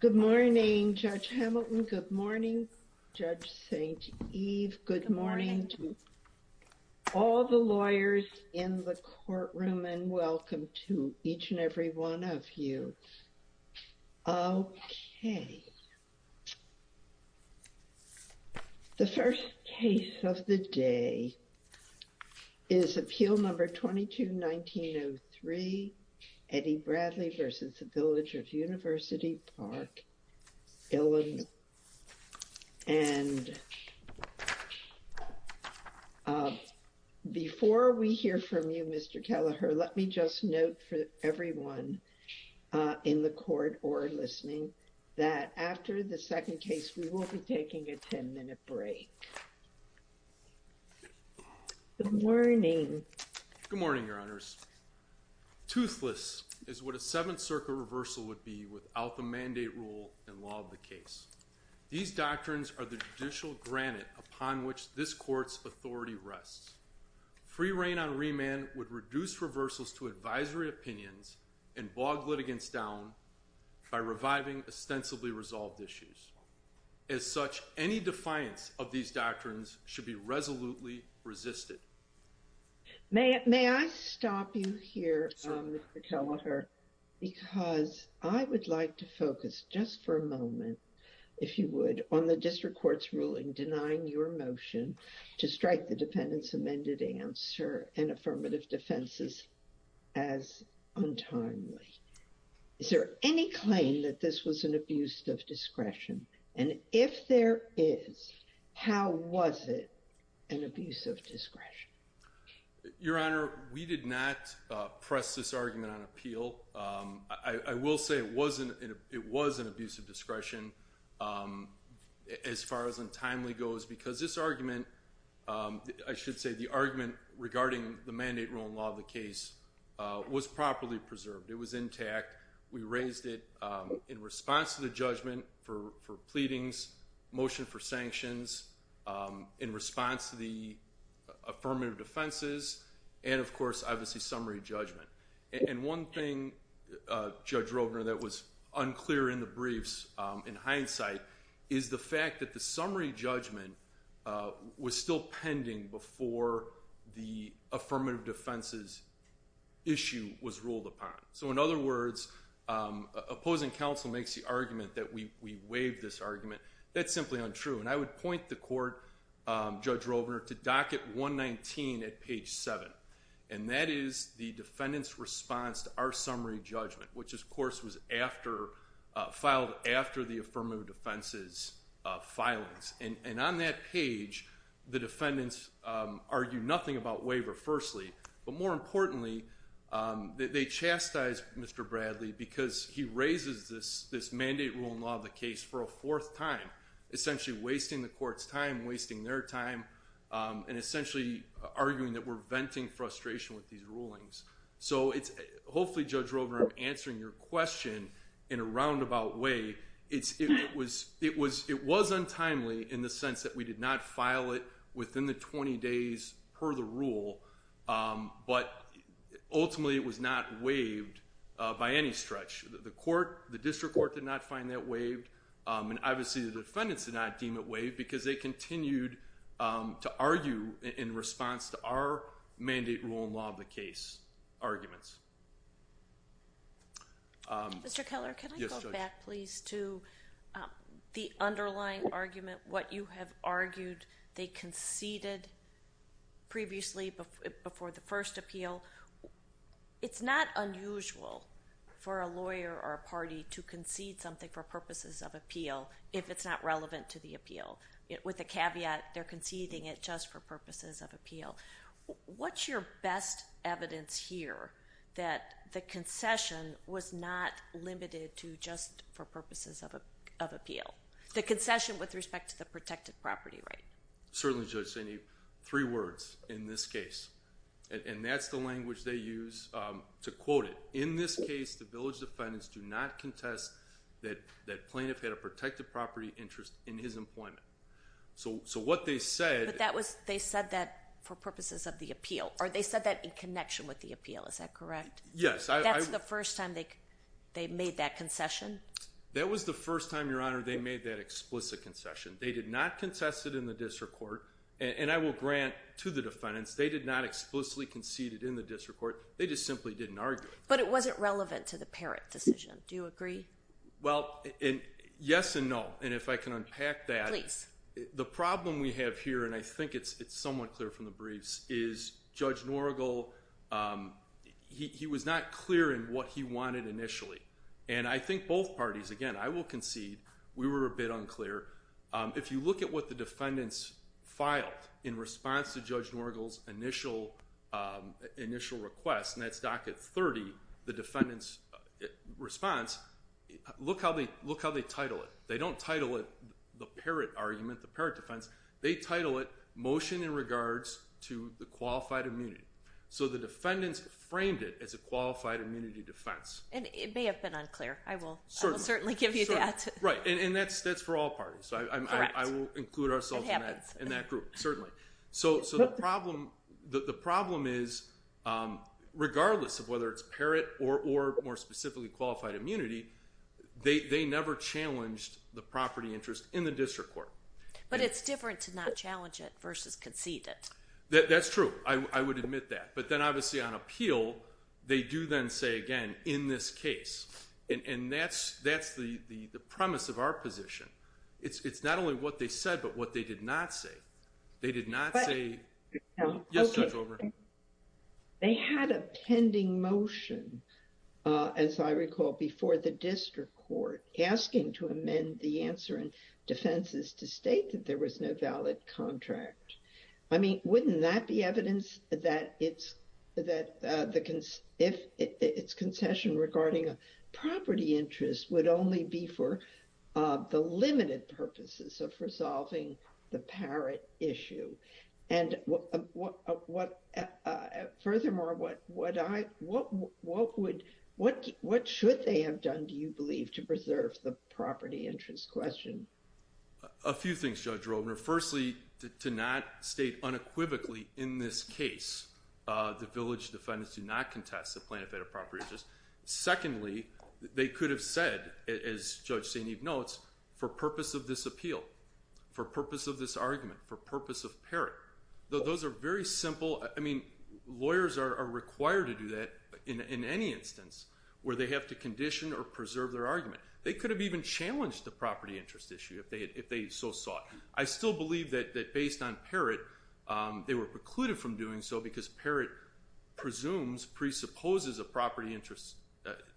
Good morning, Judge Hamilton. Good morning, Judge St. Eve. Good morning to all the lawyers in the courtroom and welcome to each and every one of you. Okay. The first case of the day is Appeal No. 22-1903, Eddie Bradley v. Village of University Park, Illinois. And before we hear from you, Mr. Kelleher, let me just note for everyone in the court or listening that after the second case, we will be taking a 10-minute break. Good morning. Good morning, Your Honors. Toothless is what a Seventh Circuit reversal would be without the mandate rule and law of the case. These doctrines are the judicial granite upon which this court's authority rests. Free rein on remand would reduce reversals to advisory opinions and bog litigants down by reviving ostensibly resolved issues. As such, any defiance of these doctrines should be resolutely resisted. May I stop you here, Mr. Kelleher, because I would like to focus just for a moment, if you would, on the district court's ruling denying your motion to strike the defendant's amended answer and affirmative defenses as untimely. Is there any claim that this was an abuse of discretion? And if there is, how was it an abuse of discretion? Your Honor, we did not press this argument on appeal. I will say it was an abuse of discretion as far as untimely goes because this argument, I should say, the argument regarding the mandate rule and law of the case was properly preserved. It was intact. We raised it in response to the judgment for pleadings, motion for sanctions, in response to the affirmative defenses, and of course, obviously, summary judgment. And one thing, Judge Roedner, that was unclear in the briefs, in hindsight, is the fact that the summary judgment was still pending before the we waived this argument. That's simply untrue. And I would point the court, Judge Roedner, to docket 119 at page 7. And that is the defendant's response to our summary judgment, which, of course, was filed after the affirmative defenses' filings. And on that page, the defendants argue nothing about waiver, firstly. But more importantly, they chastise Mr. Bradley because he raises this mandate rule and law of the case for a fourth time, essentially wasting the court's time, wasting their time, and essentially arguing that we're venting frustration with these rulings. So hopefully, Judge Roedner, I'm answering your question in a roundabout way. It was untimely in the sense that we did not file it within the 20 days per the rule, but ultimately, it was not waived by any stretch. The court, the district court, did not find that waived. And obviously, the defendants did not deem it waived because they continued to argue in response to our mandate rule and law of the case arguments. Mr. Keller, can I go back, please, to the underlying argument, what you have argued they conceded previously before the first appeal? It's not unusual for a lawyer or a party to concede something for purposes of appeal if it's not relevant to the appeal, with the caveat they're conceding it just for purposes of appeal. What's your best evidence here that the concession was not limited to just for purposes of appeal? The concession with respect to the protected property right? Certainly, Judge Zaney, three words in this case. And that's the language they use to quote it. In this case, the village defendants do not contest that plaintiff had a protected property interest in his employment. But they said that for purposes of the appeal, or they said that in connection with the appeal, is that correct? Yes. That's the first time they made that concession? That was the first time, Your Honor, they made that explicit concession. They did not concess it in the district court. And I will grant to the defendants, they did not explicitly concede it in the district court. They just simply didn't argue. But it wasn't relevant to the parrot decision. Do you agree? Well, yes and no. And if I can unpack that. Please. The problem we have here, and I think it's somewhat clear from the briefs, is Judge Norgal, he was not clear in what he wanted initially. And I think both parties, again, I will concede, we were a bit unclear. If you look at what the defendants filed in response to Judge Norgal's initial request, and that's docket 30, the defendants' response, look how they title it. They don't title it the parrot argument, the parrot defense. They title it motion in regards to the qualified immunity. So the defendants framed it as a qualified immunity defense. And it may have been unclear. I will certainly give you that. Right. And that's for all parties. I will include ourselves in that group. Certainly. So the problem is, regardless of whether it's parrot or more specifically qualified immunity, they never challenged the property interest in the district court. But it's different to not challenge it versus concede it. That's true. I would admit that. But then obviously on appeal, they do then say, again, in this case. And that's the premise of our position. It's not only what they said, but what they did not say. They did not say... Yes, Judge, over. They had a pending motion, as I recall, before the district court, asking to amend the answer in defenses to state that there was no valid contract. I mean, wouldn't that be evidence that if it's concession regarding a property interest would only be for the limited purposes of resolving the parrot issue? And furthermore, what should they have done, do you believe, to preserve the property interest question? A few things, Judge Robner. Firstly, to not state unequivocally in this case, the village defendants do not contest the plaintiff had a property interest. Secondly, they could have said, as Judge St. Eve notes, for purpose of this appeal, for purpose of this argument, for purpose of parrot. Those are very simple. I mean, lawyers are required to do that in any instance where they have to condition or preserve their argument. They could have even challenged the property interest issue if they so sought. I still believe that based on parrot, they were precluded from doing so because parrot presumes, presupposes a property interest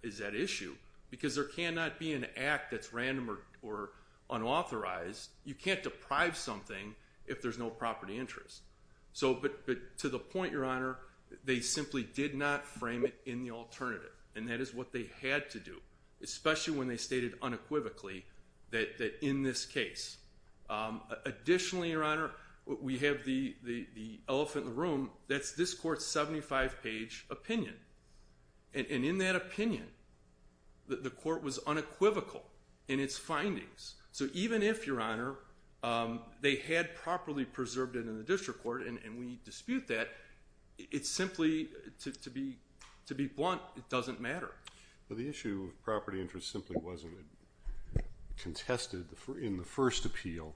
is at issue because there cannot be an act that's random or unauthorized. You can't deprive something if there's no property interest. But to the point, Your Honor, they simply did not frame it in the alternative. And that is what they had to do, especially when they stated unequivocally that in this case. Additionally, Your Honor, we have the elephant in the room. That's this court's 75-page opinion. And in that opinion, the court was unequivocal in its findings. So even if, Your Honor, they had properly preserved it in the district court and we dispute that, it's simply, to be blunt, it doesn't matter. The issue of property interest simply wasn't contested in the first appeal.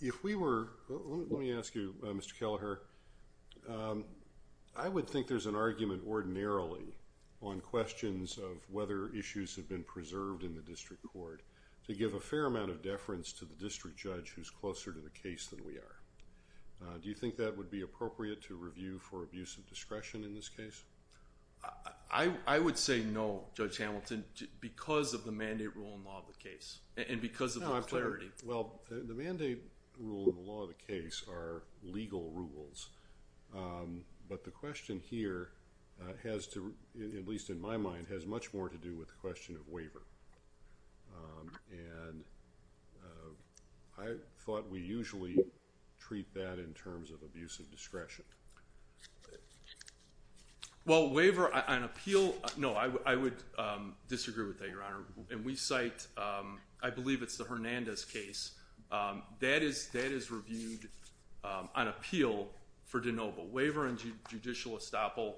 If we were, let me ask you, Mr. Kelleher, I would think there's an argument ordinarily on questions of whether issues have been preserved in the district court to give a fair amount of deference to the district judge who's closer to the case than we are. Do you think that would be appropriate to review for abuse of discretion in this case? I would say no, Judge Hamilton, because of the mandate rule in the law of the case. And because of the clarity. Well, the mandate rule in the law of the case are legal rules. But the question here has to, at least in my mind, has much more to do with the question of waiver. Well, waiver on appeal, no, I would disagree with that, Your Honor. And we cite, I believe it's the Hernandez case. That is reviewed on appeal for de novo. Waiver and judicial estoppel,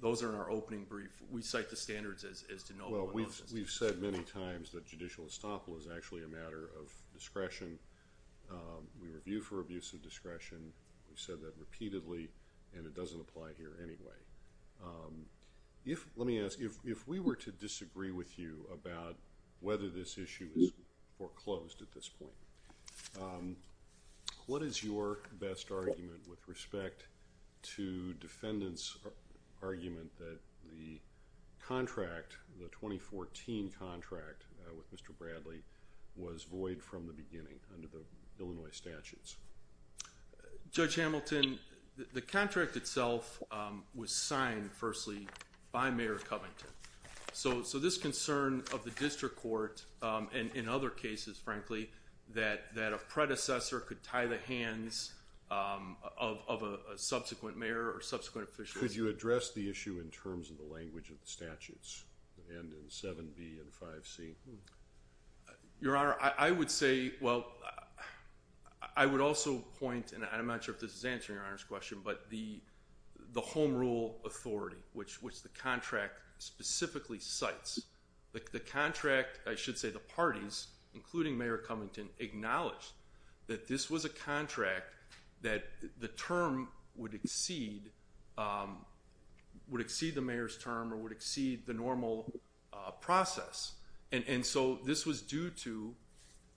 those are in our opening brief. We cite the standards as de novo. Well, we've said many times that judicial estoppel We review for abuse of discretion. We've said that repeatedly. And it doesn't apply here anyway. Let me ask, if we were to disagree with you about whether this issue is foreclosed at this point, what is your best argument with respect to defendants' argument that the contract, the 2014 contract with Mr. Bradley was void from the beginning under the Illinois statutes? Judge Hamilton, the contract itself was signed, firstly, by Mayor Covington. So this concern of the district court, and in other cases, frankly, that a predecessor could tie the hands of a subsequent mayor or subsequent official. Could you address the issue in terms of the language of the statutes? And in 7b and 5c? Your Honor, I would say, well, I would also point, and I'm not sure if this is answering Your Honor's question, but the home rule authority, which the contract specifically cites, the contract, I should say, the parties, including Mayor Covington, acknowledged that this was a contract that the term would exceed the mayor's term or would exceed the normal process. And so this was due to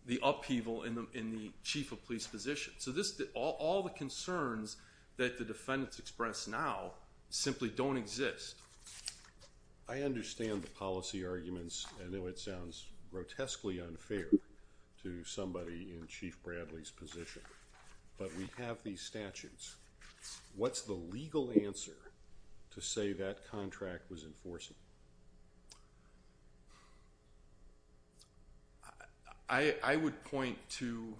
the upheaval in the chief of police position. So all the concerns that the defendants express now simply don't exist. I understand the policy arguments. I know it sounds grotesquely unfair to somebody in Chief Bradley's position. But we have these statutes. What's the legal answer to say that contract was enforceable? I would point to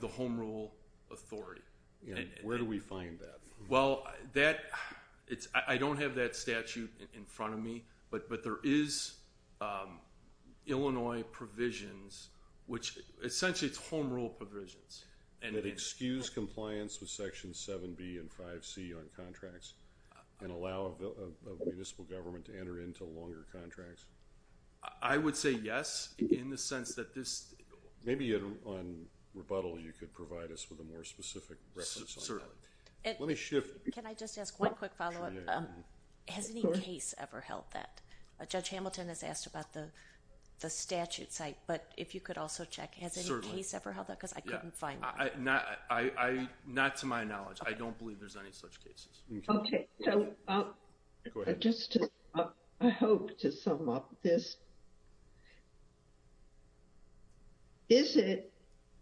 the home rule authority. Where do we find that? Well, I don't have that statute in front of me. But there is Illinois provisions, which essentially it's home rule provisions. That excuse compliance with Section 7b and 5c on contracts? And allow a municipal government to enter into longer contracts? I would say yes, in the sense that this, maybe on rebuttal you could provide us with a more specific reference. Certainly. Let me shift. Can I just ask one quick follow-up? Has any case ever held that? Judge Hamilton has asked about the statute site. But if you could also check, has any case ever held that? Because I couldn't find one. Not to my knowledge. I don't believe there's any such cases. OK. Go ahead. Just a hope to sum up this. Is it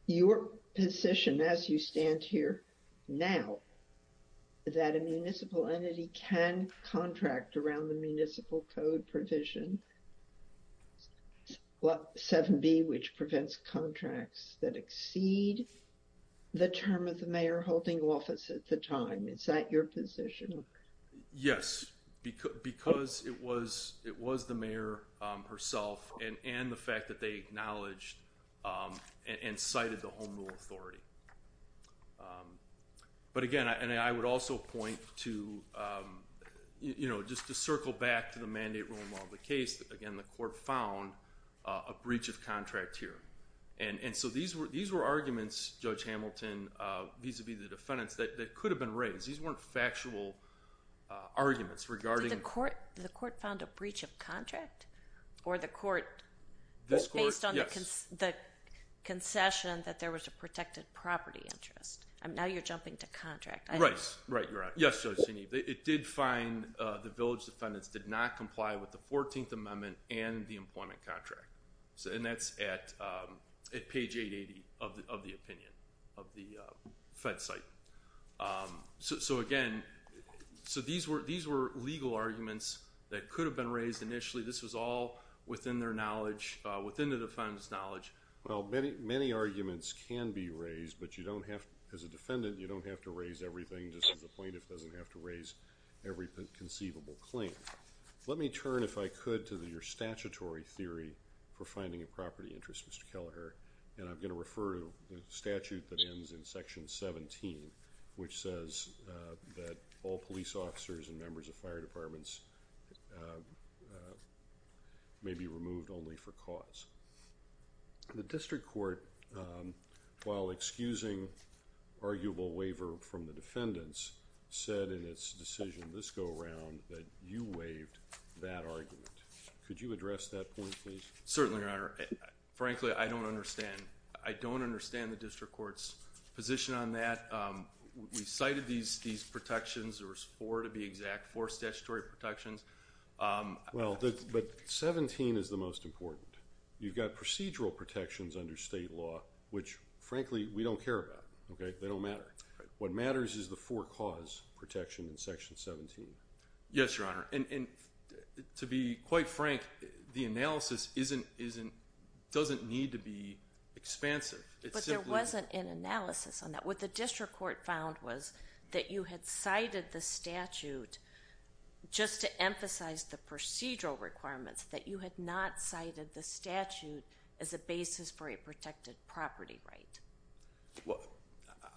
your position as you stand here now that a municipal entity can contract around the municipal code provision? 7b, which prevents contracts that exceed the term of the mayor holding office at the time. Is that your position? Yes, because it was the mayor herself and the fact that they acknowledged and cited the home rule authority. But again, and I would also point to, just to circle back to the mandate rule in the case, again, the court found a breach of contract here. And so these were arguments, Judge Hamilton, vis-a-vis the defendants, that could have been raised. These weren't factual arguments regarding- Did the court found a breach of contract? Or the court, based on the concession, that there was a protected property interest? Now you're jumping to contract. Right, you're right. Yes, Judge Genevieve. It did find the village defendants did not comply with the 14th Amendment and the employment contract. And that's at page 880 of the opinion of the fed site. So again, so these were legal arguments that could have been raised initially. This was all within their knowledge, within the defendant's knowledge. Well, many arguments can be raised, but you don't have, as a defendant, you don't have to raise everything, just as a plaintiff doesn't have to raise every conceivable claim. Let me turn, if I could, to your statutory theory for finding a property interest, Mr. Kelleher. And I'm going to refer to the statute that ends in section 17, which says that all police officers and members of fire departments may be removed only for cause. The district court, while excusing arguable waiver from the defendants, said in its decision this go-around that you waived that argument. Could you address that point, please? Certainly, Your Honor. Frankly, I don't understand. I don't understand the district court's position on that. We cited these protections. There were four, to be exact, four statutory protections. Well, but 17 is the most important. You've got procedural protections under state law, which, frankly, we don't care about. They don't matter. What matters is the four-cause protection in section 17. Yes, Your Honor. To be quite frank, the analysis doesn't need to be expansive. But there wasn't an analysis on that. What the district court found was that you had cited the statute just to emphasize the procedural requirements, that you had not cited the statute as a basis for a protected property right. Well,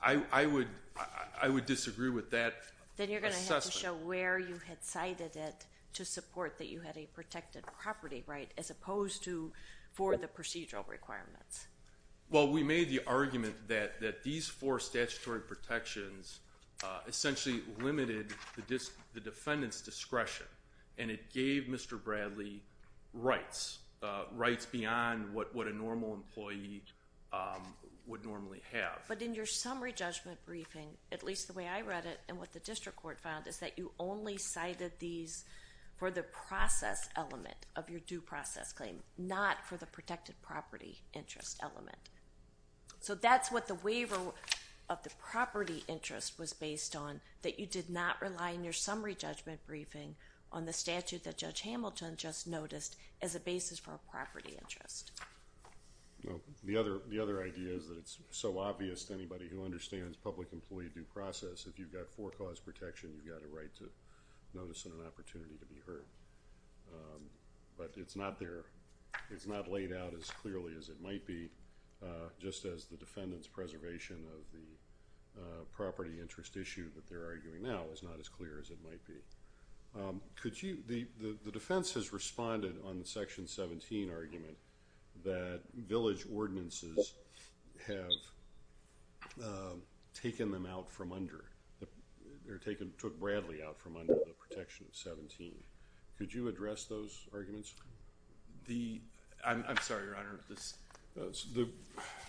I would disagree with that. Then you're going to have to show where you had cited it to support that you had a protected property right as opposed to for the procedural requirements. Well, we made the argument that these four statutory protections essentially limited the defendant's discretion. And it gave Mr. Bradley rights. Rights beyond what a normal employee would normally have. But in your summary judgment briefing, at least the way I read it and what the district court found is that you only cited these for the process element of your due process claim, not for the protected property interest element. So that's what the waiver of the property interest was based on, that you did not rely on your summary judgment briefing on the statute that Judge Hamilton just noticed as a basis for a property interest. The other idea is that it's so obvious to anybody who understands public employee due process if you've got four cause protection you've got a right to notice and an opportunity to be heard. But it's not there. It's not laid out as clearly as it might be just as the defendant's preservation of the property interest issue that they're arguing now is not as clear as it might be. The defense has responded on the section 17 argument that village ordinances have taken them out from under, or took Bradley out from under the protection of 17. Could you address those arguments? I'm sorry, Your Honor. The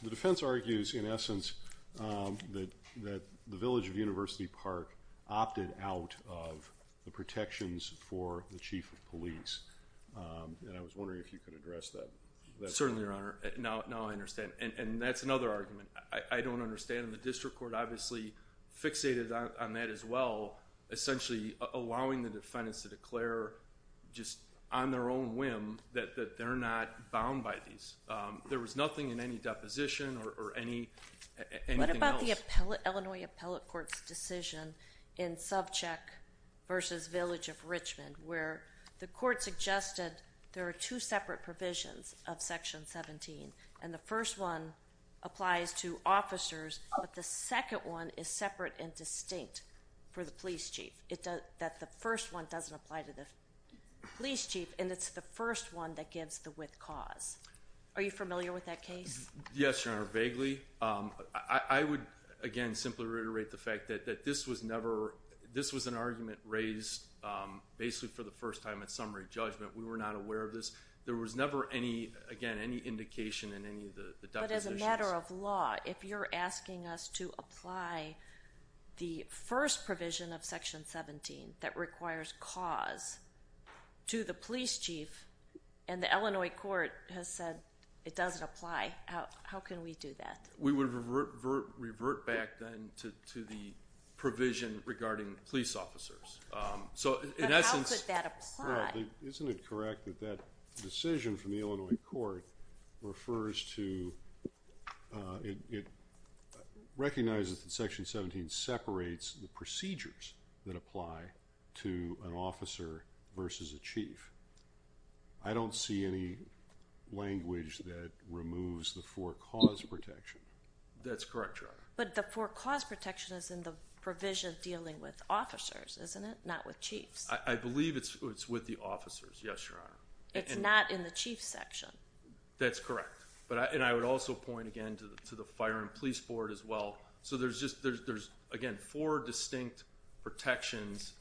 defense argues in essence that the Village of University Park opted out of the protections for the chief of police. And I was wondering if you could address that. Certainly, Your Honor. Now I understand. And that's another argument. I don't understand the district court obviously fixated on that as well essentially allowing the defendants to declare just on their own whim that they're not bound by these. There was nothing in any deposition or anything else. What about the Illinois Appellate Court's decision in Subcheck versus Village of Richmond where the court suggested there are two separate provisions of section 17. And the first one applies to officers but the second one is separate and distinct for the police chief. The first one doesn't apply to the police chief and it's the first one that gives the with cause. Are you familiar with that case? Yes, Your Honor. Vaguely. I would again simply reiterate the fact that this was never this was an argument raised basically for the first time in summary judgment. We were not aware of this. There was never any indication in any of the depositions. But as a matter of law, if you're asking us to apply the first provision of section 17 that requires cause to the police chief and the Illinois court has said it doesn't apply how can we do that? We would revert back then to the provision regarding police officers. But how could that apply? Isn't it correct that that decision from the Illinois court refers to it recognizes that section 17 separates the procedures that apply to an officer versus a chief. I don't see any language that removes the for cause protection. That's correct, Your Honor. But the for cause protection is in the statute, isn't it? Not with chiefs. I believe it's with the officers. Yes, Your Honor. It's not in the chief section. That's correct. And I would also point again to the fire and police board as well. There's again four distinct protections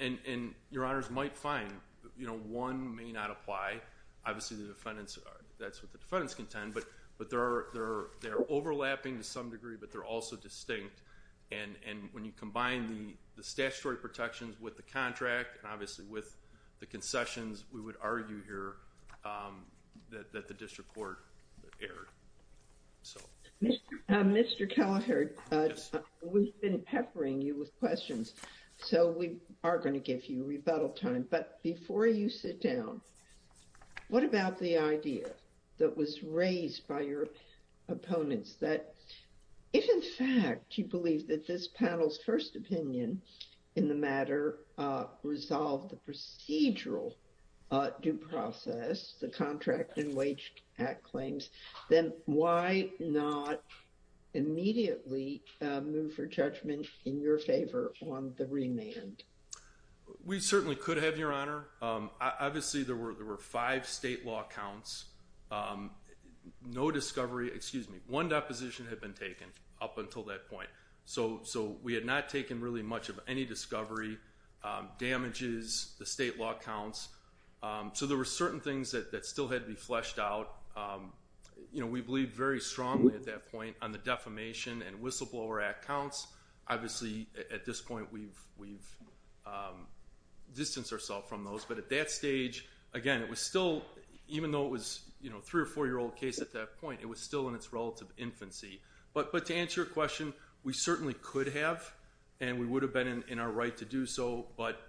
and Your Honors might find one may not apply. Obviously the defendants that's what the defendants contend but they're overlapping to some degree but they're also distinct. And when you combine the statutory protections with the contract and obviously with the concessions we would argue here that the district court erred. Mr. Kelleher we've been peppering you with questions so we are going to give you rebuttal time but before you sit down what about the idea that was raised by your opponents that if in fact you believe that this panel's first opinion in the matter resolved the procedural due process the contract and wage claims then why not immediately move for judgment in your favor on the remand? We certainly could have Your Honor. Obviously there were five state law counts no discovery excuse me, one deposition had been taken up until that point so we had not taken really much of any discovery, damages the state law counts so there were certain things that still had to be fleshed out you know we believed very strongly at that point on the defamation and whistleblower act counts. Obviously at this point we've distanced ourselves from those but at that stage again it was still even though it was a three or four year old case at that point it was still in its relative infancy but to answer your question we certainly could have and we would have been in our right to do so but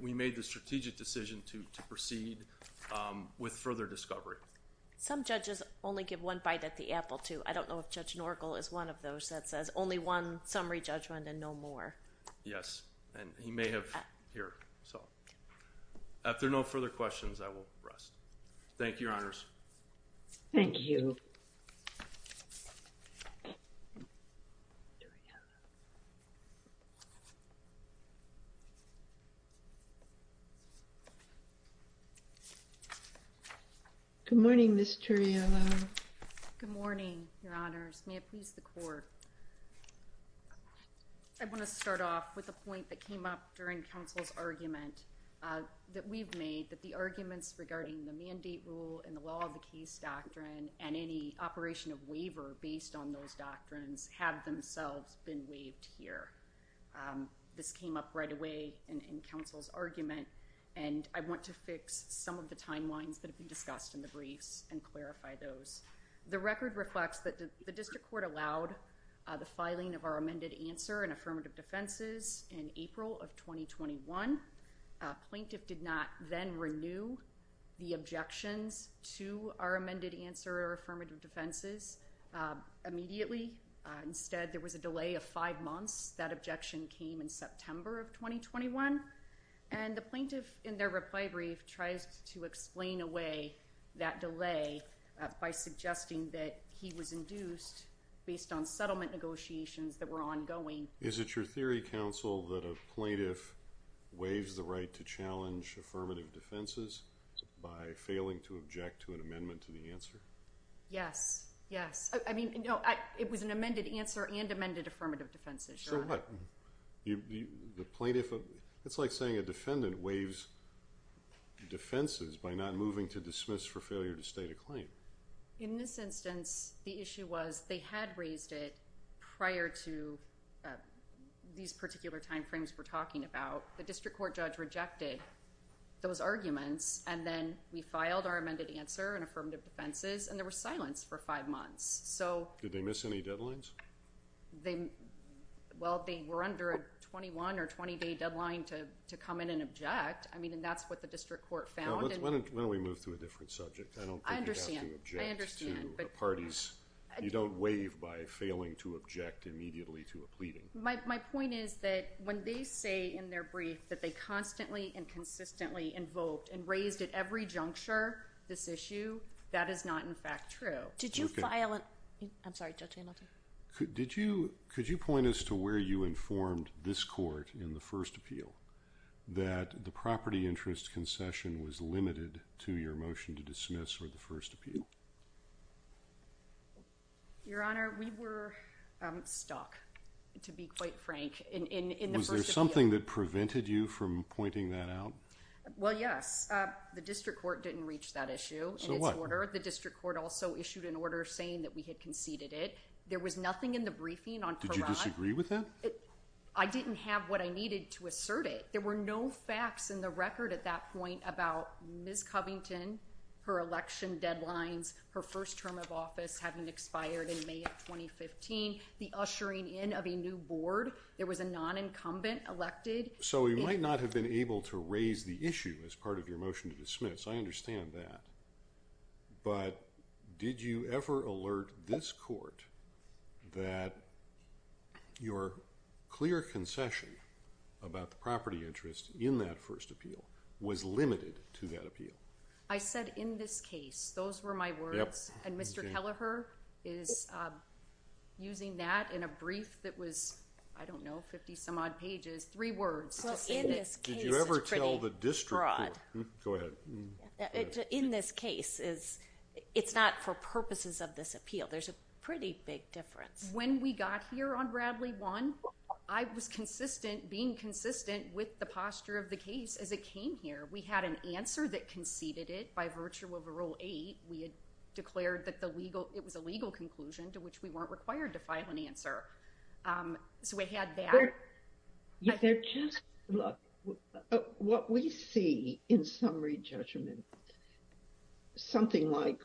we made the strategic decision to proceed with further discovery. Some judges only give one bite at the apple too I don't know if Judge Norgel is one of those that says only one summary judgment and no more. Yes and he may have here after no further questions I will rest. Thank you your honors Thank you Good morning Ms. Turiello Good morning your honors. May it please the court I want to start off with a point that came up during counsel's argument that we've made that the arguments regarding the mandate rule and the law of the case doctrine and any operation of waiver based on those doctrines have themselves been waived here this came up right away in counsel's argument and I want to fix some of the timelines that have been discussed in the briefs and clarify those. The record reflects that the district court allowed the filing of our amended answer and affirmative defenses in 2015. Plaintiff did not then renew the objections to our amended answer or affirmative defenses immediately instead there was a delay of five months that objection came in September of 2021 and the plaintiff in their reply brief tries to explain away that delay by suggesting that he was induced based on settlement negotiations that were ongoing. Is it your theory counsel that a plaintiff waives the right to challenge affirmative defenses by failing to object to an amendment to the answer? Yes. Yes. I mean, no, it was an amended answer and amended affirmative defenses. So what? It's like saying a defendant waives defenses by not moving to dismiss for failure to state a claim. In this instance the issue was they had raised it prior to these particular time frames we're talking about. The district court judge rejected those arguments and then we filed our amended answer and affirmative defenses and there was silence for five months. Did they miss any deadlines? They well they were under a 21 or 20 day deadline to come in and object. I mean and that's what the district court found. When do we move to a different subject? I don't think you have to object to parties. You don't waive by failing to object immediately to a pleading. My point is that when they say in their brief that they constantly and consistently invoked and raised at every juncture this issue, that is not in fact true. Did you file an, I'm sorry Judge Annalta. Did you, could you point us to where you informed this court in the first appeal that the property interest concession was limited to your motion to dismiss or the first appeal? Your Honor, we were stuck to be quite frank. Was there something that prevented you from pointing that out? Well yes. The district court didn't reach that issue. So what? The district court also issued an order saying that we had conceded it. There was nothing in the briefing on. Did you disagree with that? I didn't have what I needed to assert it. There were no facts in the record at that point about Ms. Covington, her election deadlines, her first term of office having expired in May of 2015, the ushering in of a new board. There was a non-incumbent elected. So we might not have been able to raise the issue as part of your motion to dismiss. I understand that. But did you ever alert this court that your clear concession about the property interest in that first appeal was limited to that appeal? I said in this case. Those were my words. And Mr. Kelleher is using that in a brief that was, I don't know, 50 some odd pages. Three words. Did you ever tell the district court? Go ahead. In this case, it's not for purposes of this appeal. There's a pretty big difference. When we got here on Bradley 1, I was consistent, being consistent with the posture of the case as it came here. We had an answer that conceded it by virtue of Rule 8. We had declared that it was a legal conclusion to which we weren't required to file an answer. So we had that. Look, what we see in summary judgment is something like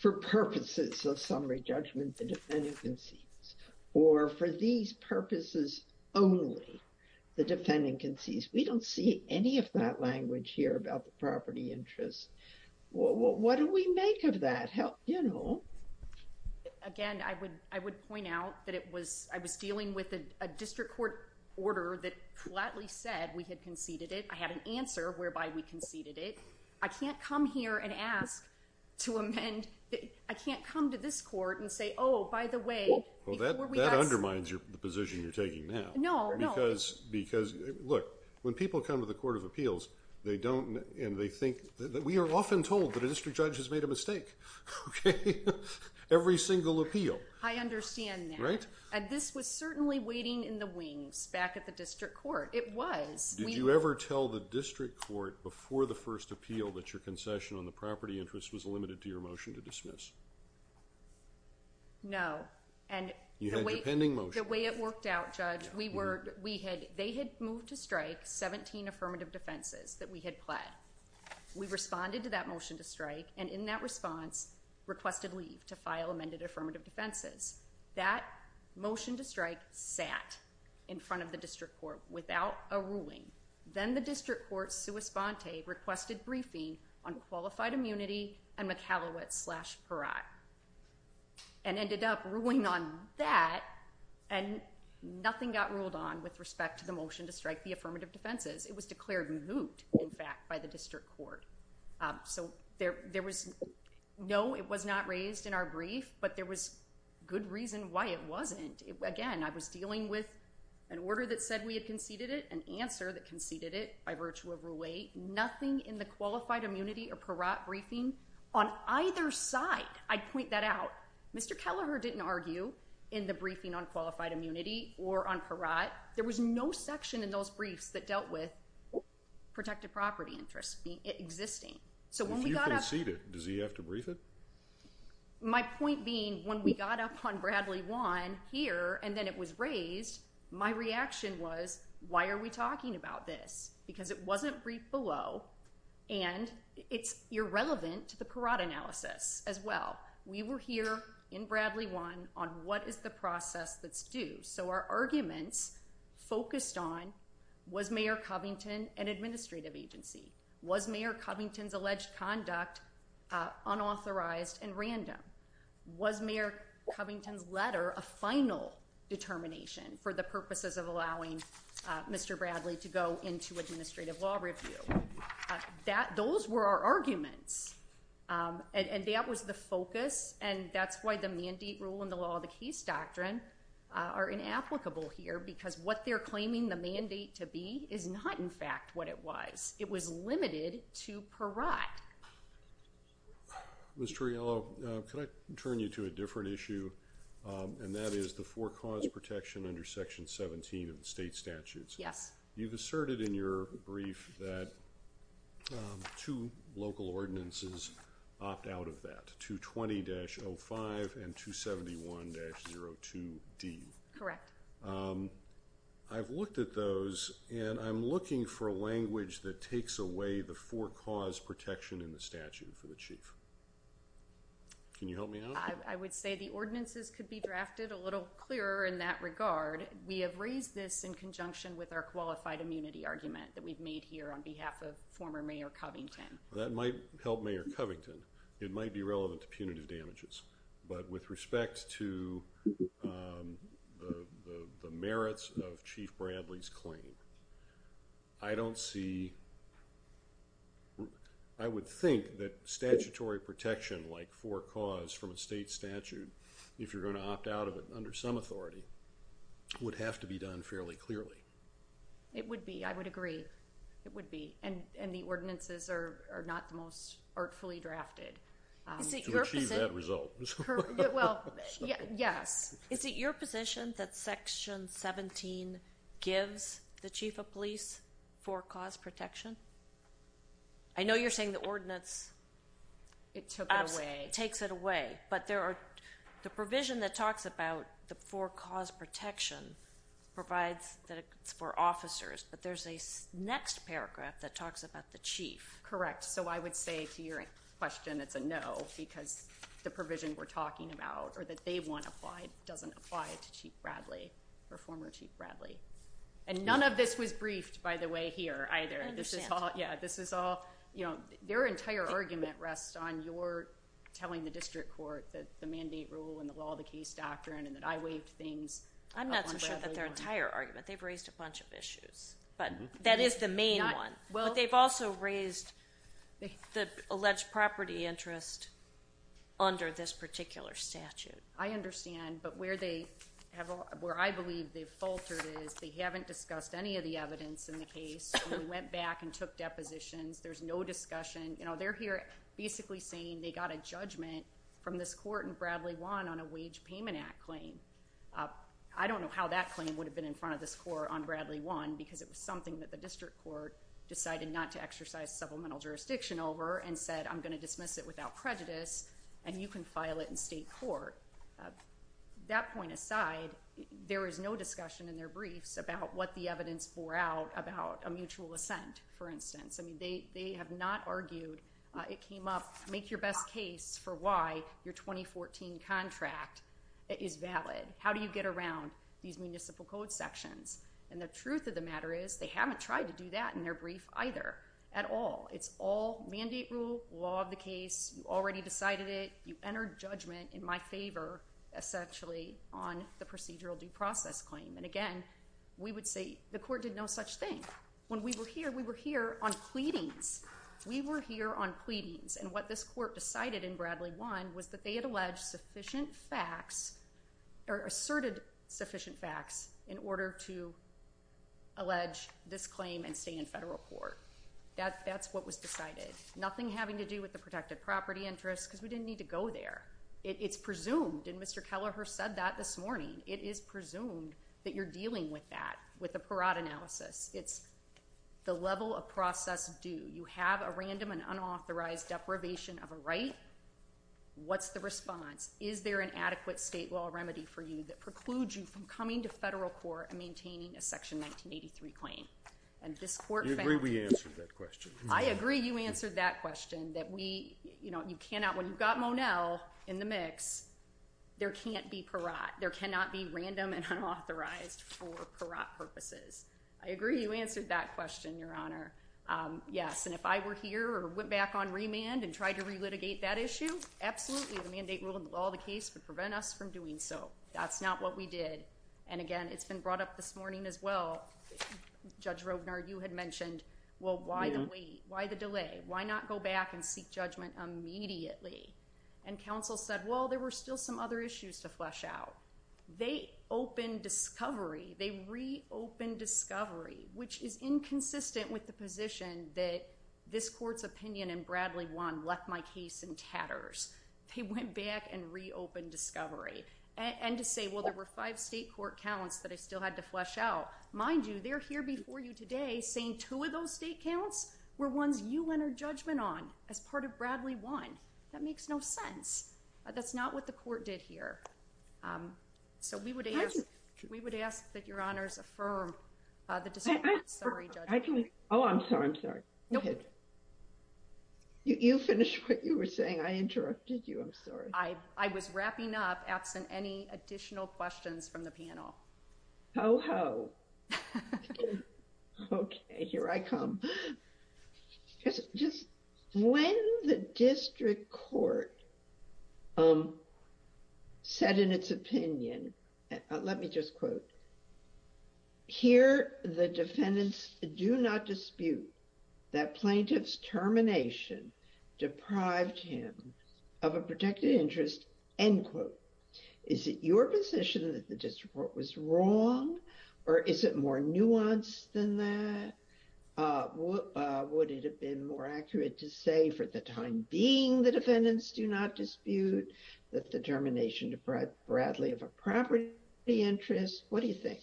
for purposes of summary judgment, the defendant concedes. Or for these purposes only, the plaintiff concedes. I don't know if any of that language here about the property interest. What do we make of that? You know. Again, I would point out that it was, I was dealing with a district court order that flatly said we had conceded it. I had an answer whereby we conceded it. I can't come here and ask to amend, I can't come to this court and say, oh, by the way. That undermines the position you're taking now. No, no. Look, when people come to the Court of Appeals they don't, and they think, we are often told that a district judge has made a mistake. Every single appeal. I understand that. And this was certainly waiting in the wings back at the district court. It was. Did you ever tell the district court before the first appeal that your concession on the property interest was limited to your motion to dismiss? No. The way it worked out, Judge, they had moved to strike 17 affirmative defenses that we had pled. We responded to that motion to strike, and in that response requested leave to file amended affirmative defenses. That motion to strike sat in front of the district court without a ruling. Then the district court, sua sponte, requested briefing on qualified immunity and McHallowett slash and ended up ruling on that and nothing got ruled on with respect to the motion to strike the affirmative defenses. It was declared moot in fact by the district court. So there was no, it was not raised in our brief, but there was good reason why it wasn't. Again, I was dealing with an order that said we had conceded it, an answer that conceded it by virtue of Rule 8. Nothing in the qualified immunity or parat briefing on either side. I'd point that out. Mr. Kelleher didn't argue in the briefing on qualified immunity or on parat. There was no section in those briefs that dealt with protected property interests existing. So when we got up... Does he have to brief it? My point being, when we got up on Bradley 1 here and then it was raised, my reaction was why are we talking about this? Because it wasn't briefed below and it's irrelevant to the parat analysis as well. We were here in Bradley 1 on what is the process that's due. So our arguments focused on, was Mayor Covington an administrative agency? Was Mayor Covington's alleged conduct unauthorized and random? Was Mayor Covington's letter a final determination for the purposes of allowing Mr. Bradley to go into administrative law review? Those were our arguments. And that was the focus and that's why the mandate rule and the law of the case doctrine are inapplicable here because what they're claiming the mandate to be is not in fact what it was. It was limited to parat. Ms. Trujillo, can I turn you to a different issue and that is the four cause protection under section 17 of the state statutes? Yes. You've asserted in your brief that two local ordinances opt out of that. 220-05 and 271-02D. Correct. I've looked at those and I'm looking for language that takes away the four cause protection in the statute for the chief. Can you help me out? I would say the ordinances could be drafted a little clearer in that regard. We have raised this in conjunction with our qualified immunity argument that we've made here on behalf of former Mayor Covington. That might help Mayor Covington. It might be relevant to punitive damages but with respect to the merits of Chief Bradley's claim I don't see I would think that statutory protection like four cause from a state statute if you're going to opt out of it under some authority would have to be done fairly clearly. It would be. I would agree. And the ordinances are not the most artfully drafted. To achieve that result. Yes. Is it your position that section 17 gives the chief of police four cause protection? I know you're saying the ordinance takes it away. But there are the provision that talks about the four cause protection provides that it's for officers but there's a next paragraph that talks about the chief. Correct. So I would say to your question it's a no because the provision we're talking about or that they want applied doesn't apply to Chief Bradley or former Chief Bradley. And none of this was briefed by the way here either. This is all. Their entire argument rests on your telling the district court that the mandate rule and the law of the case doctrine and that I waived things. I'm not so sure that their entire argument. They've raised a bunch of issues. But that is the main one. But they've also raised the alleged property interest under this particular statute. I understand. But where they where I believe they've faltered is they haven't discussed any of the evidence in the case. They went back and took depositions. There's no discussion. They're here basically saying they got a judgment from this court in Bradley 1 on a wage payment act claim. I don't know how that claim would have been in front of this court on Bradley 1 because it was something that the district court decided not to exercise supplemental jurisdiction over and said I'm going to dismiss it without prejudice and you can file it in state court. That point aside there is no discussion in their briefs about what the evidence bore out about a mutual assent for instance. They have not argued it came up make your best case for why your 2014 contract is valid. How do you get around these municipal code sections? And the truth of the matter is they haven't tried to do that in their brief either at all. It's all mandate rule, law of the case you already decided it, you entered judgment in my favor essentially on the procedural due process claim. And again we would say the court did no such thing. When we were here, we were here on pleadings. We were here on pleadings and what this court decided in Bradley 1 was that they had alleged sufficient facts or asserted sufficient facts in order to allege this claim and stay in federal court. That's what was decided. Nothing having to do with the protected property interest because we didn't need to go and Mr. Kelleher said that this morning it is presumed that you're dealing with that, with a parat analysis. It's the level of process due. You have a random and unauthorized deprivation of a right what's the response? Is there an adequate state law remedy for you that precludes you from coming to federal court and maintaining a section 1983 claim? And this court found... You agree we answered that question. I agree you answered that question that we you cannot, when you've got Monel in the mix there can't be parat. There cannot be parat purposes. I agree you answered that question, Your Honor. Yes, and if I were here or went back on remand and tried to relitigate that issue, absolutely the mandate rule in the law of the case would prevent us from doing so. That's not what we did. And again, it's been brought up this morning as well. Judge Rovnar, you had mentioned, well, why the wait? Why the delay? Why not go back and seek judgment immediately? And counsel said, well, there were still some other issues to flesh out. They opened discovery. They reopened discovery, which is inconsistent with the position that this court's opinion in Bradley 1 left my case in tatters. They went back and reopened discovery. And to say, well, there were five state court counts that I still had to flesh out. Mind you, they're here before you today saying two of those state counts as part of Bradley 1. That makes no sense. That's not what the court did here. So we would ask that your honors affirm the decision. Sorry, Judge. Oh, I'm sorry. I'm sorry. Go ahead. You finished what you were saying. I interrupted you. I'm sorry. I was wrapping up absent any additional questions from the panel. Ho, ho. Okay. Here I come. When the district court said in its opinion, let me just quote, here the defendants do not dispute that plaintiff's termination deprived him of a protected interest, end quote. Is it your position that the district court was wrong, or is it more nuanced than that? Would it have been more accurate to say for the time being the defendants do not dispute that termination deprived Bradley of a property interest? What do you think?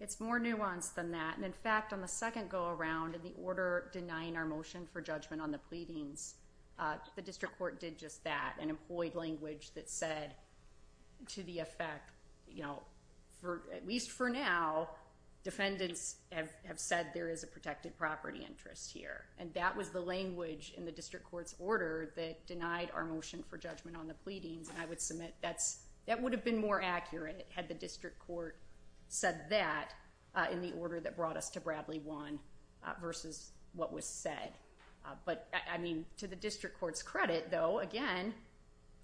It's more nuanced than that. And in fact, on the second go around, in the order denying our motion for judgment on the pleadings, the district court did just that and employed language that said to the effect, you know, at least for now, defendants have said there is a protected property interest here. And that was the language in the district court's order that denied our motion for judgment on the pleadings, and I would submit that would have been more accurate had the district court said that in the order that brought us to Bradley 1 versus what was said. But I mean, to the district court's credit though, again,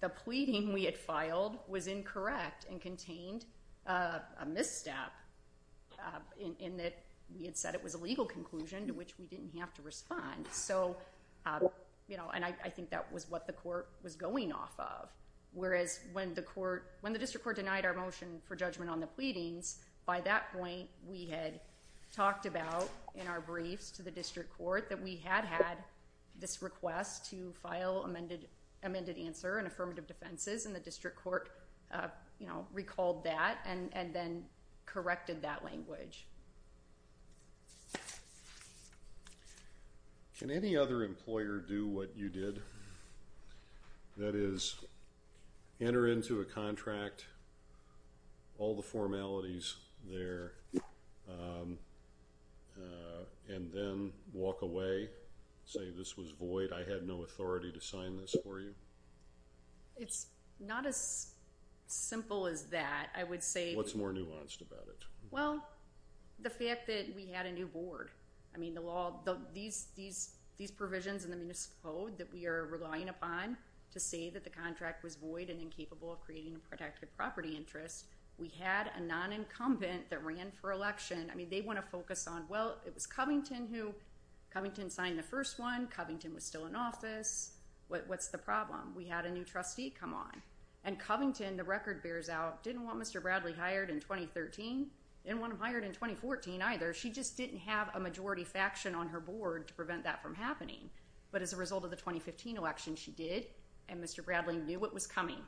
the pleading we had filed was incorrect and contained a misstep in that we had said it was a legal conclusion to which we didn't have to respond. So, you know, and I think that was what the court was going off of, whereas when the district court denied our motion for judgment on the pleadings, by that point, we had talked about in our briefs to the district court that we had had this request to file amended answer and affirmative defenses and the district court recalled that and then corrected that language. Can any other employer do what you did? That is, enter into a contract, all the formalities there, and then walk away, say this was void, I had no authority to sign this for you? It's not as simple as that. I would say... What's more nuanced about it? Well, the fact that we had a new board. I mean, the law, these provisions in the municipal code that we are relying upon to say that the contract was void and incapable of creating a protected property interest, we had a non-incumbent that ran for election. I mean, they want to focus on, well, it was Covington who Covington signed the first one, Covington was still in office, what's the problem? We had a new trustee come on. And Covington, the record bears out, didn't want Mr. Bradley hired in 2013, didn't want him hired in 2014 either. She just didn't have a majority faction on her board to prevent that from happening. But as a result of the 2015 election, she did, and Mr. Bradley knew it was coming.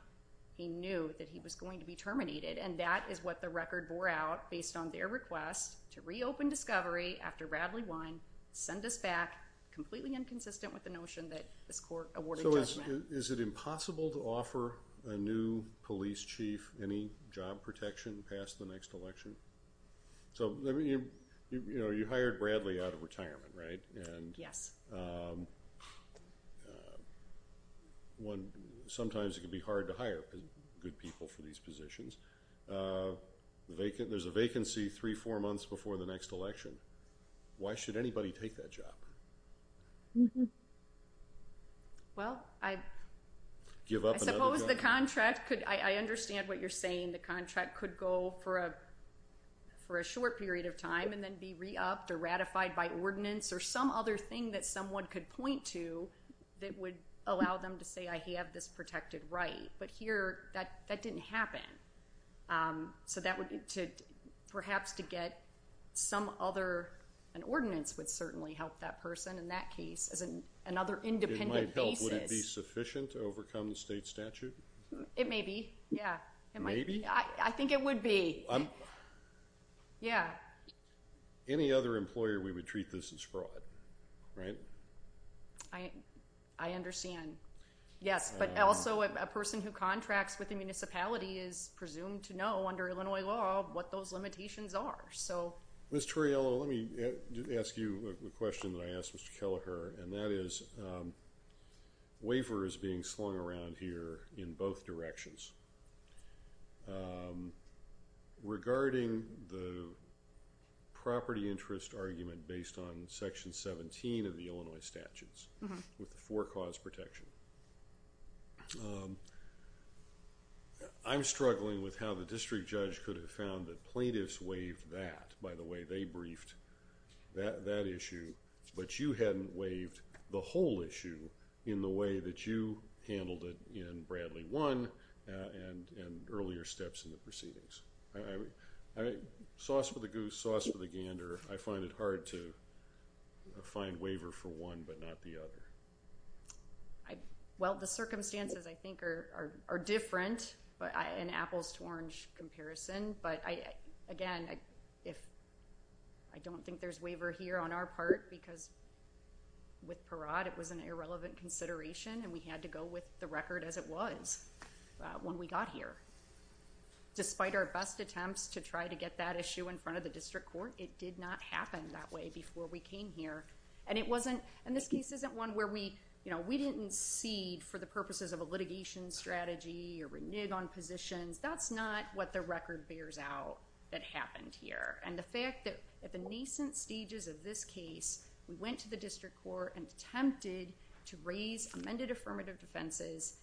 He knew that he was going to be terminated and that is what the record bore out based on their request to reopen discovery after Bradley won, send us back, completely inconsistent with the notion that this court awarded judgment. So is it impossible to offer a new police chief any job protection past the next election? You hired Bradley out of retirement, right? Yes. Sometimes it can be hard to hire good people for these positions. There's a vacancy three, four months before the next election. Why should anybody take that job? Well, I suppose the contract could, I understand what you're saying, the contract could go for a short period of time and then be re-upped or ratified by ordinance or some other thing that someone could point to that would allow them to say, I have this protected right. But here, that didn't happen. So that would, perhaps to get some other an ordinance would certainly help that person in that case as another independent basis. Would it be sufficient to overcome the state statute? It may be, yeah. Maybe? I think it would be. Yeah. Any other employer we would treat this as fraud, right? I understand. Yes. But also a person who contracts with a municipality is presumed to know under Illinois law what those limitations are, so. Ms. Torriello, let me ask you a question that I asked Mr. Kelleher, and that is waiver is being slung around here in both directions. Regarding the property interest argument based on section 17 of the Illinois statutes with the four cause protection, I'm struggling with how the district judge could have found that plaintiffs waived that, by the way, they briefed that issue, but you hadn't waived the whole issue in the way that you handled it in Bradley 1 and earlier steps in the proceedings. Sauce for the goose, sauce for the gander, I find it hard to find waiver for one but not the other. Well, the circumstances, I think, are different in apples to orange comparison, but again, I don't think there's waiver here on our part because with Parade, it was an irrelevant consideration and we had to go with the record as it was when we got here. Despite our best attempts to try to get that issue in front of the district court, it did not happen that way before we came here and it wasn't, and this case isn't one where we didn't cede for the purposes of a litigation strategy or renege on positions, that's not what the record bears out that happened here, and the fact that at the nascent stages of this case, we went to the district court and attempted to raise amended affirmative defenses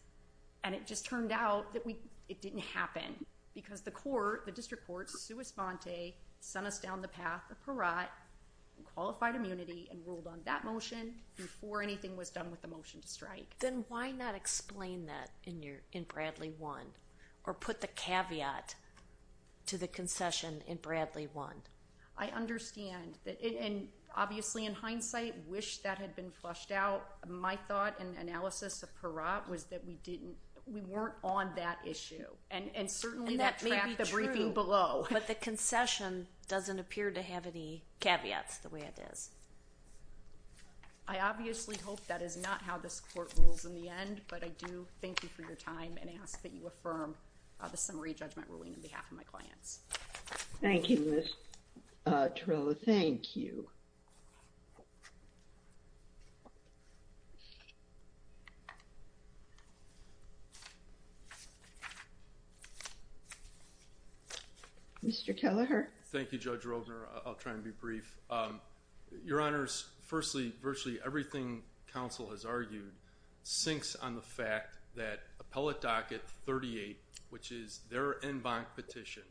and it just turned out that it didn't happen because the court, the district court, sui sponte, sent us down the path of Parade and qualified immunity and ruled on that motion before anything was done with the motion to strike. Then why not explain that in Bradley 1 or put the caveat to the concession in Bradley 1? I understand and obviously in hindsight, wish that had been flushed out. My thought and analysis of Parade was that we didn't, we weren't on that issue and certainly that tracked the briefing below. But the concession doesn't appear to have any caveats the way it is. I obviously hope that is not how this court rules in the end, but I do thank you for your time and ask that you affirm the summary judgment ruling on behalf of my clients. Thank you, Ms. Torello. Thank you. Mr. Kelleher. Thank you, Judge Rovner. I'll try and be brief. Your Honors, firstly, virtually everything counsel has argued sinks on the fact that Appellate Docket 38, which is their en banc petition,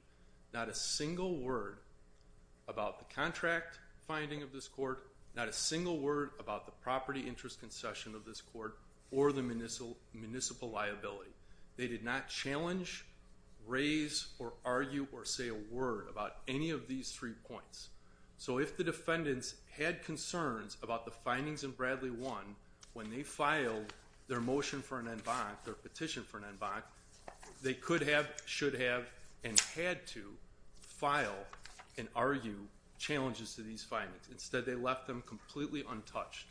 not a single word about the contract finding of this court, not a single word about the property interest concession of this court or the municipal liability. They did not challenge, raise, or argue or say a word about any of these three points. So if the defendants had concerns about the findings in Bradley 1 when they filed their motion for an en banc, their petition for an en banc, they could have, should have, and had to file and argue challenges to these findings. Instead, they left them completely untouched.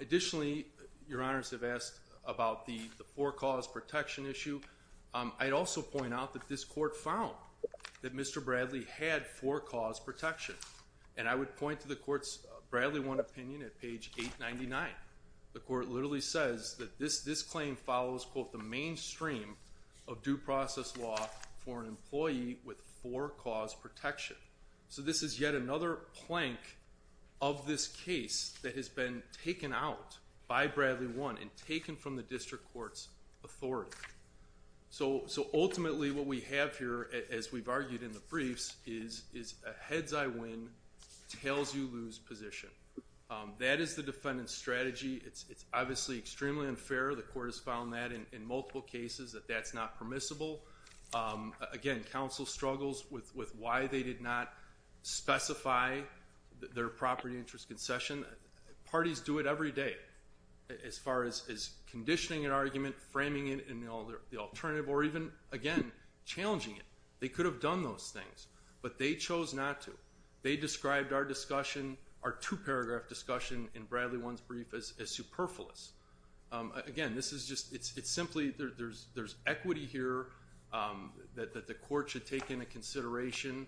Additionally, Your Honors have asked about the forecaused protection issue. I'd also point out that this court found that Mr. Bradley had forecaused protection. I would point to the court's Bradley 1 opinion at page 899. The court literally says that this claim follows, quote, the mainstream of due process law for an employee with forecaused protection. So this is yet another plank of this case that has been taken out by Bradley 1 and taken from the district court's authority. So ultimately, what we have here, as we've argued in the briefs, is a heads-I-win, tails-you-lose position. That is the defendant's strategy. It's obviously extremely unfair. The court has found that in multiple cases that that's not permissible. Again, counsel struggles with why they did not specify their property interest concession. Parties do it every day as far as conditioning an argument, framing it in the alternative, or even, again, challenging it. They could have done those things, but they chose not to. They described our discussion, our two-paragraph discussion, in Bradley 1's brief, as superfluous. Again, this is just, it's simply, there's equity here that the court should take into consideration.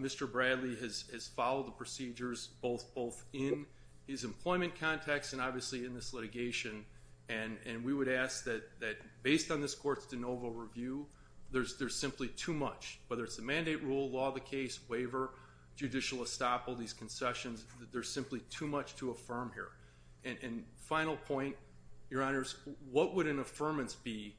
Mr. Bradley has followed the procedures, both in his employment context and obviously in this litigation, and we would ask that, based on this court's de novo review, there's simply too much, whether it's the mandate rule, law of the case, waiver, judicial estoppel, these concessions, there's simply too much to affirm here. And final point, your honors, what would an affirmance be,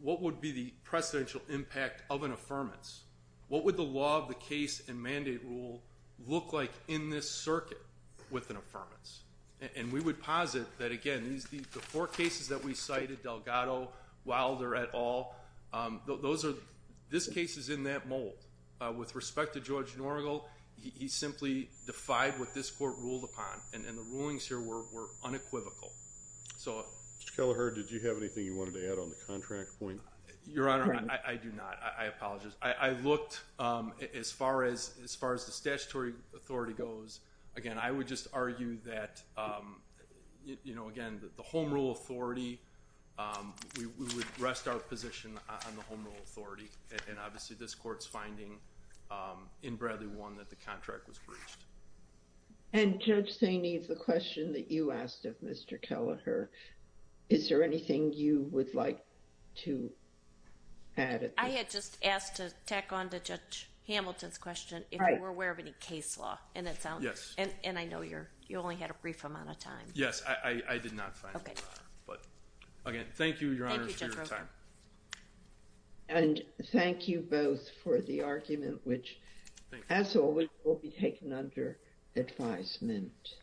what would be the precedential impact of an affirmance? What would the law of the case and mandate rule look like in this circuit with an affirmance? And we would posit that, again, the four cases that we cited, Delgado, Wilder, et al., this case is in that mold. With respect to George Norgal, he simply defied what this court ruled upon, and the rulings here were unequivocal. Mr. Kelleher, did you have anything you wanted to add on the contract point? Your honor, I do not. I apologize. I looked as far as the statutory authority goes, again, I would just argue that again, the home rule authority, we would look as far as the statutory authority, and obviously this court's finding in Bradley 1 that the contract was breached. And Judge Saini, the question that you asked of Mr. Kelleher, is there anything you would like to add? I had just asked to tack on to Judge Hamilton's question, if you were aware of any case law, and I know you only had a brief amount of time. Yes, I did not find any. Again, thank you, Your Honor, for your time. Thank you, Judge Roper. And thank you both for the argument, which as always will be taken under advisement.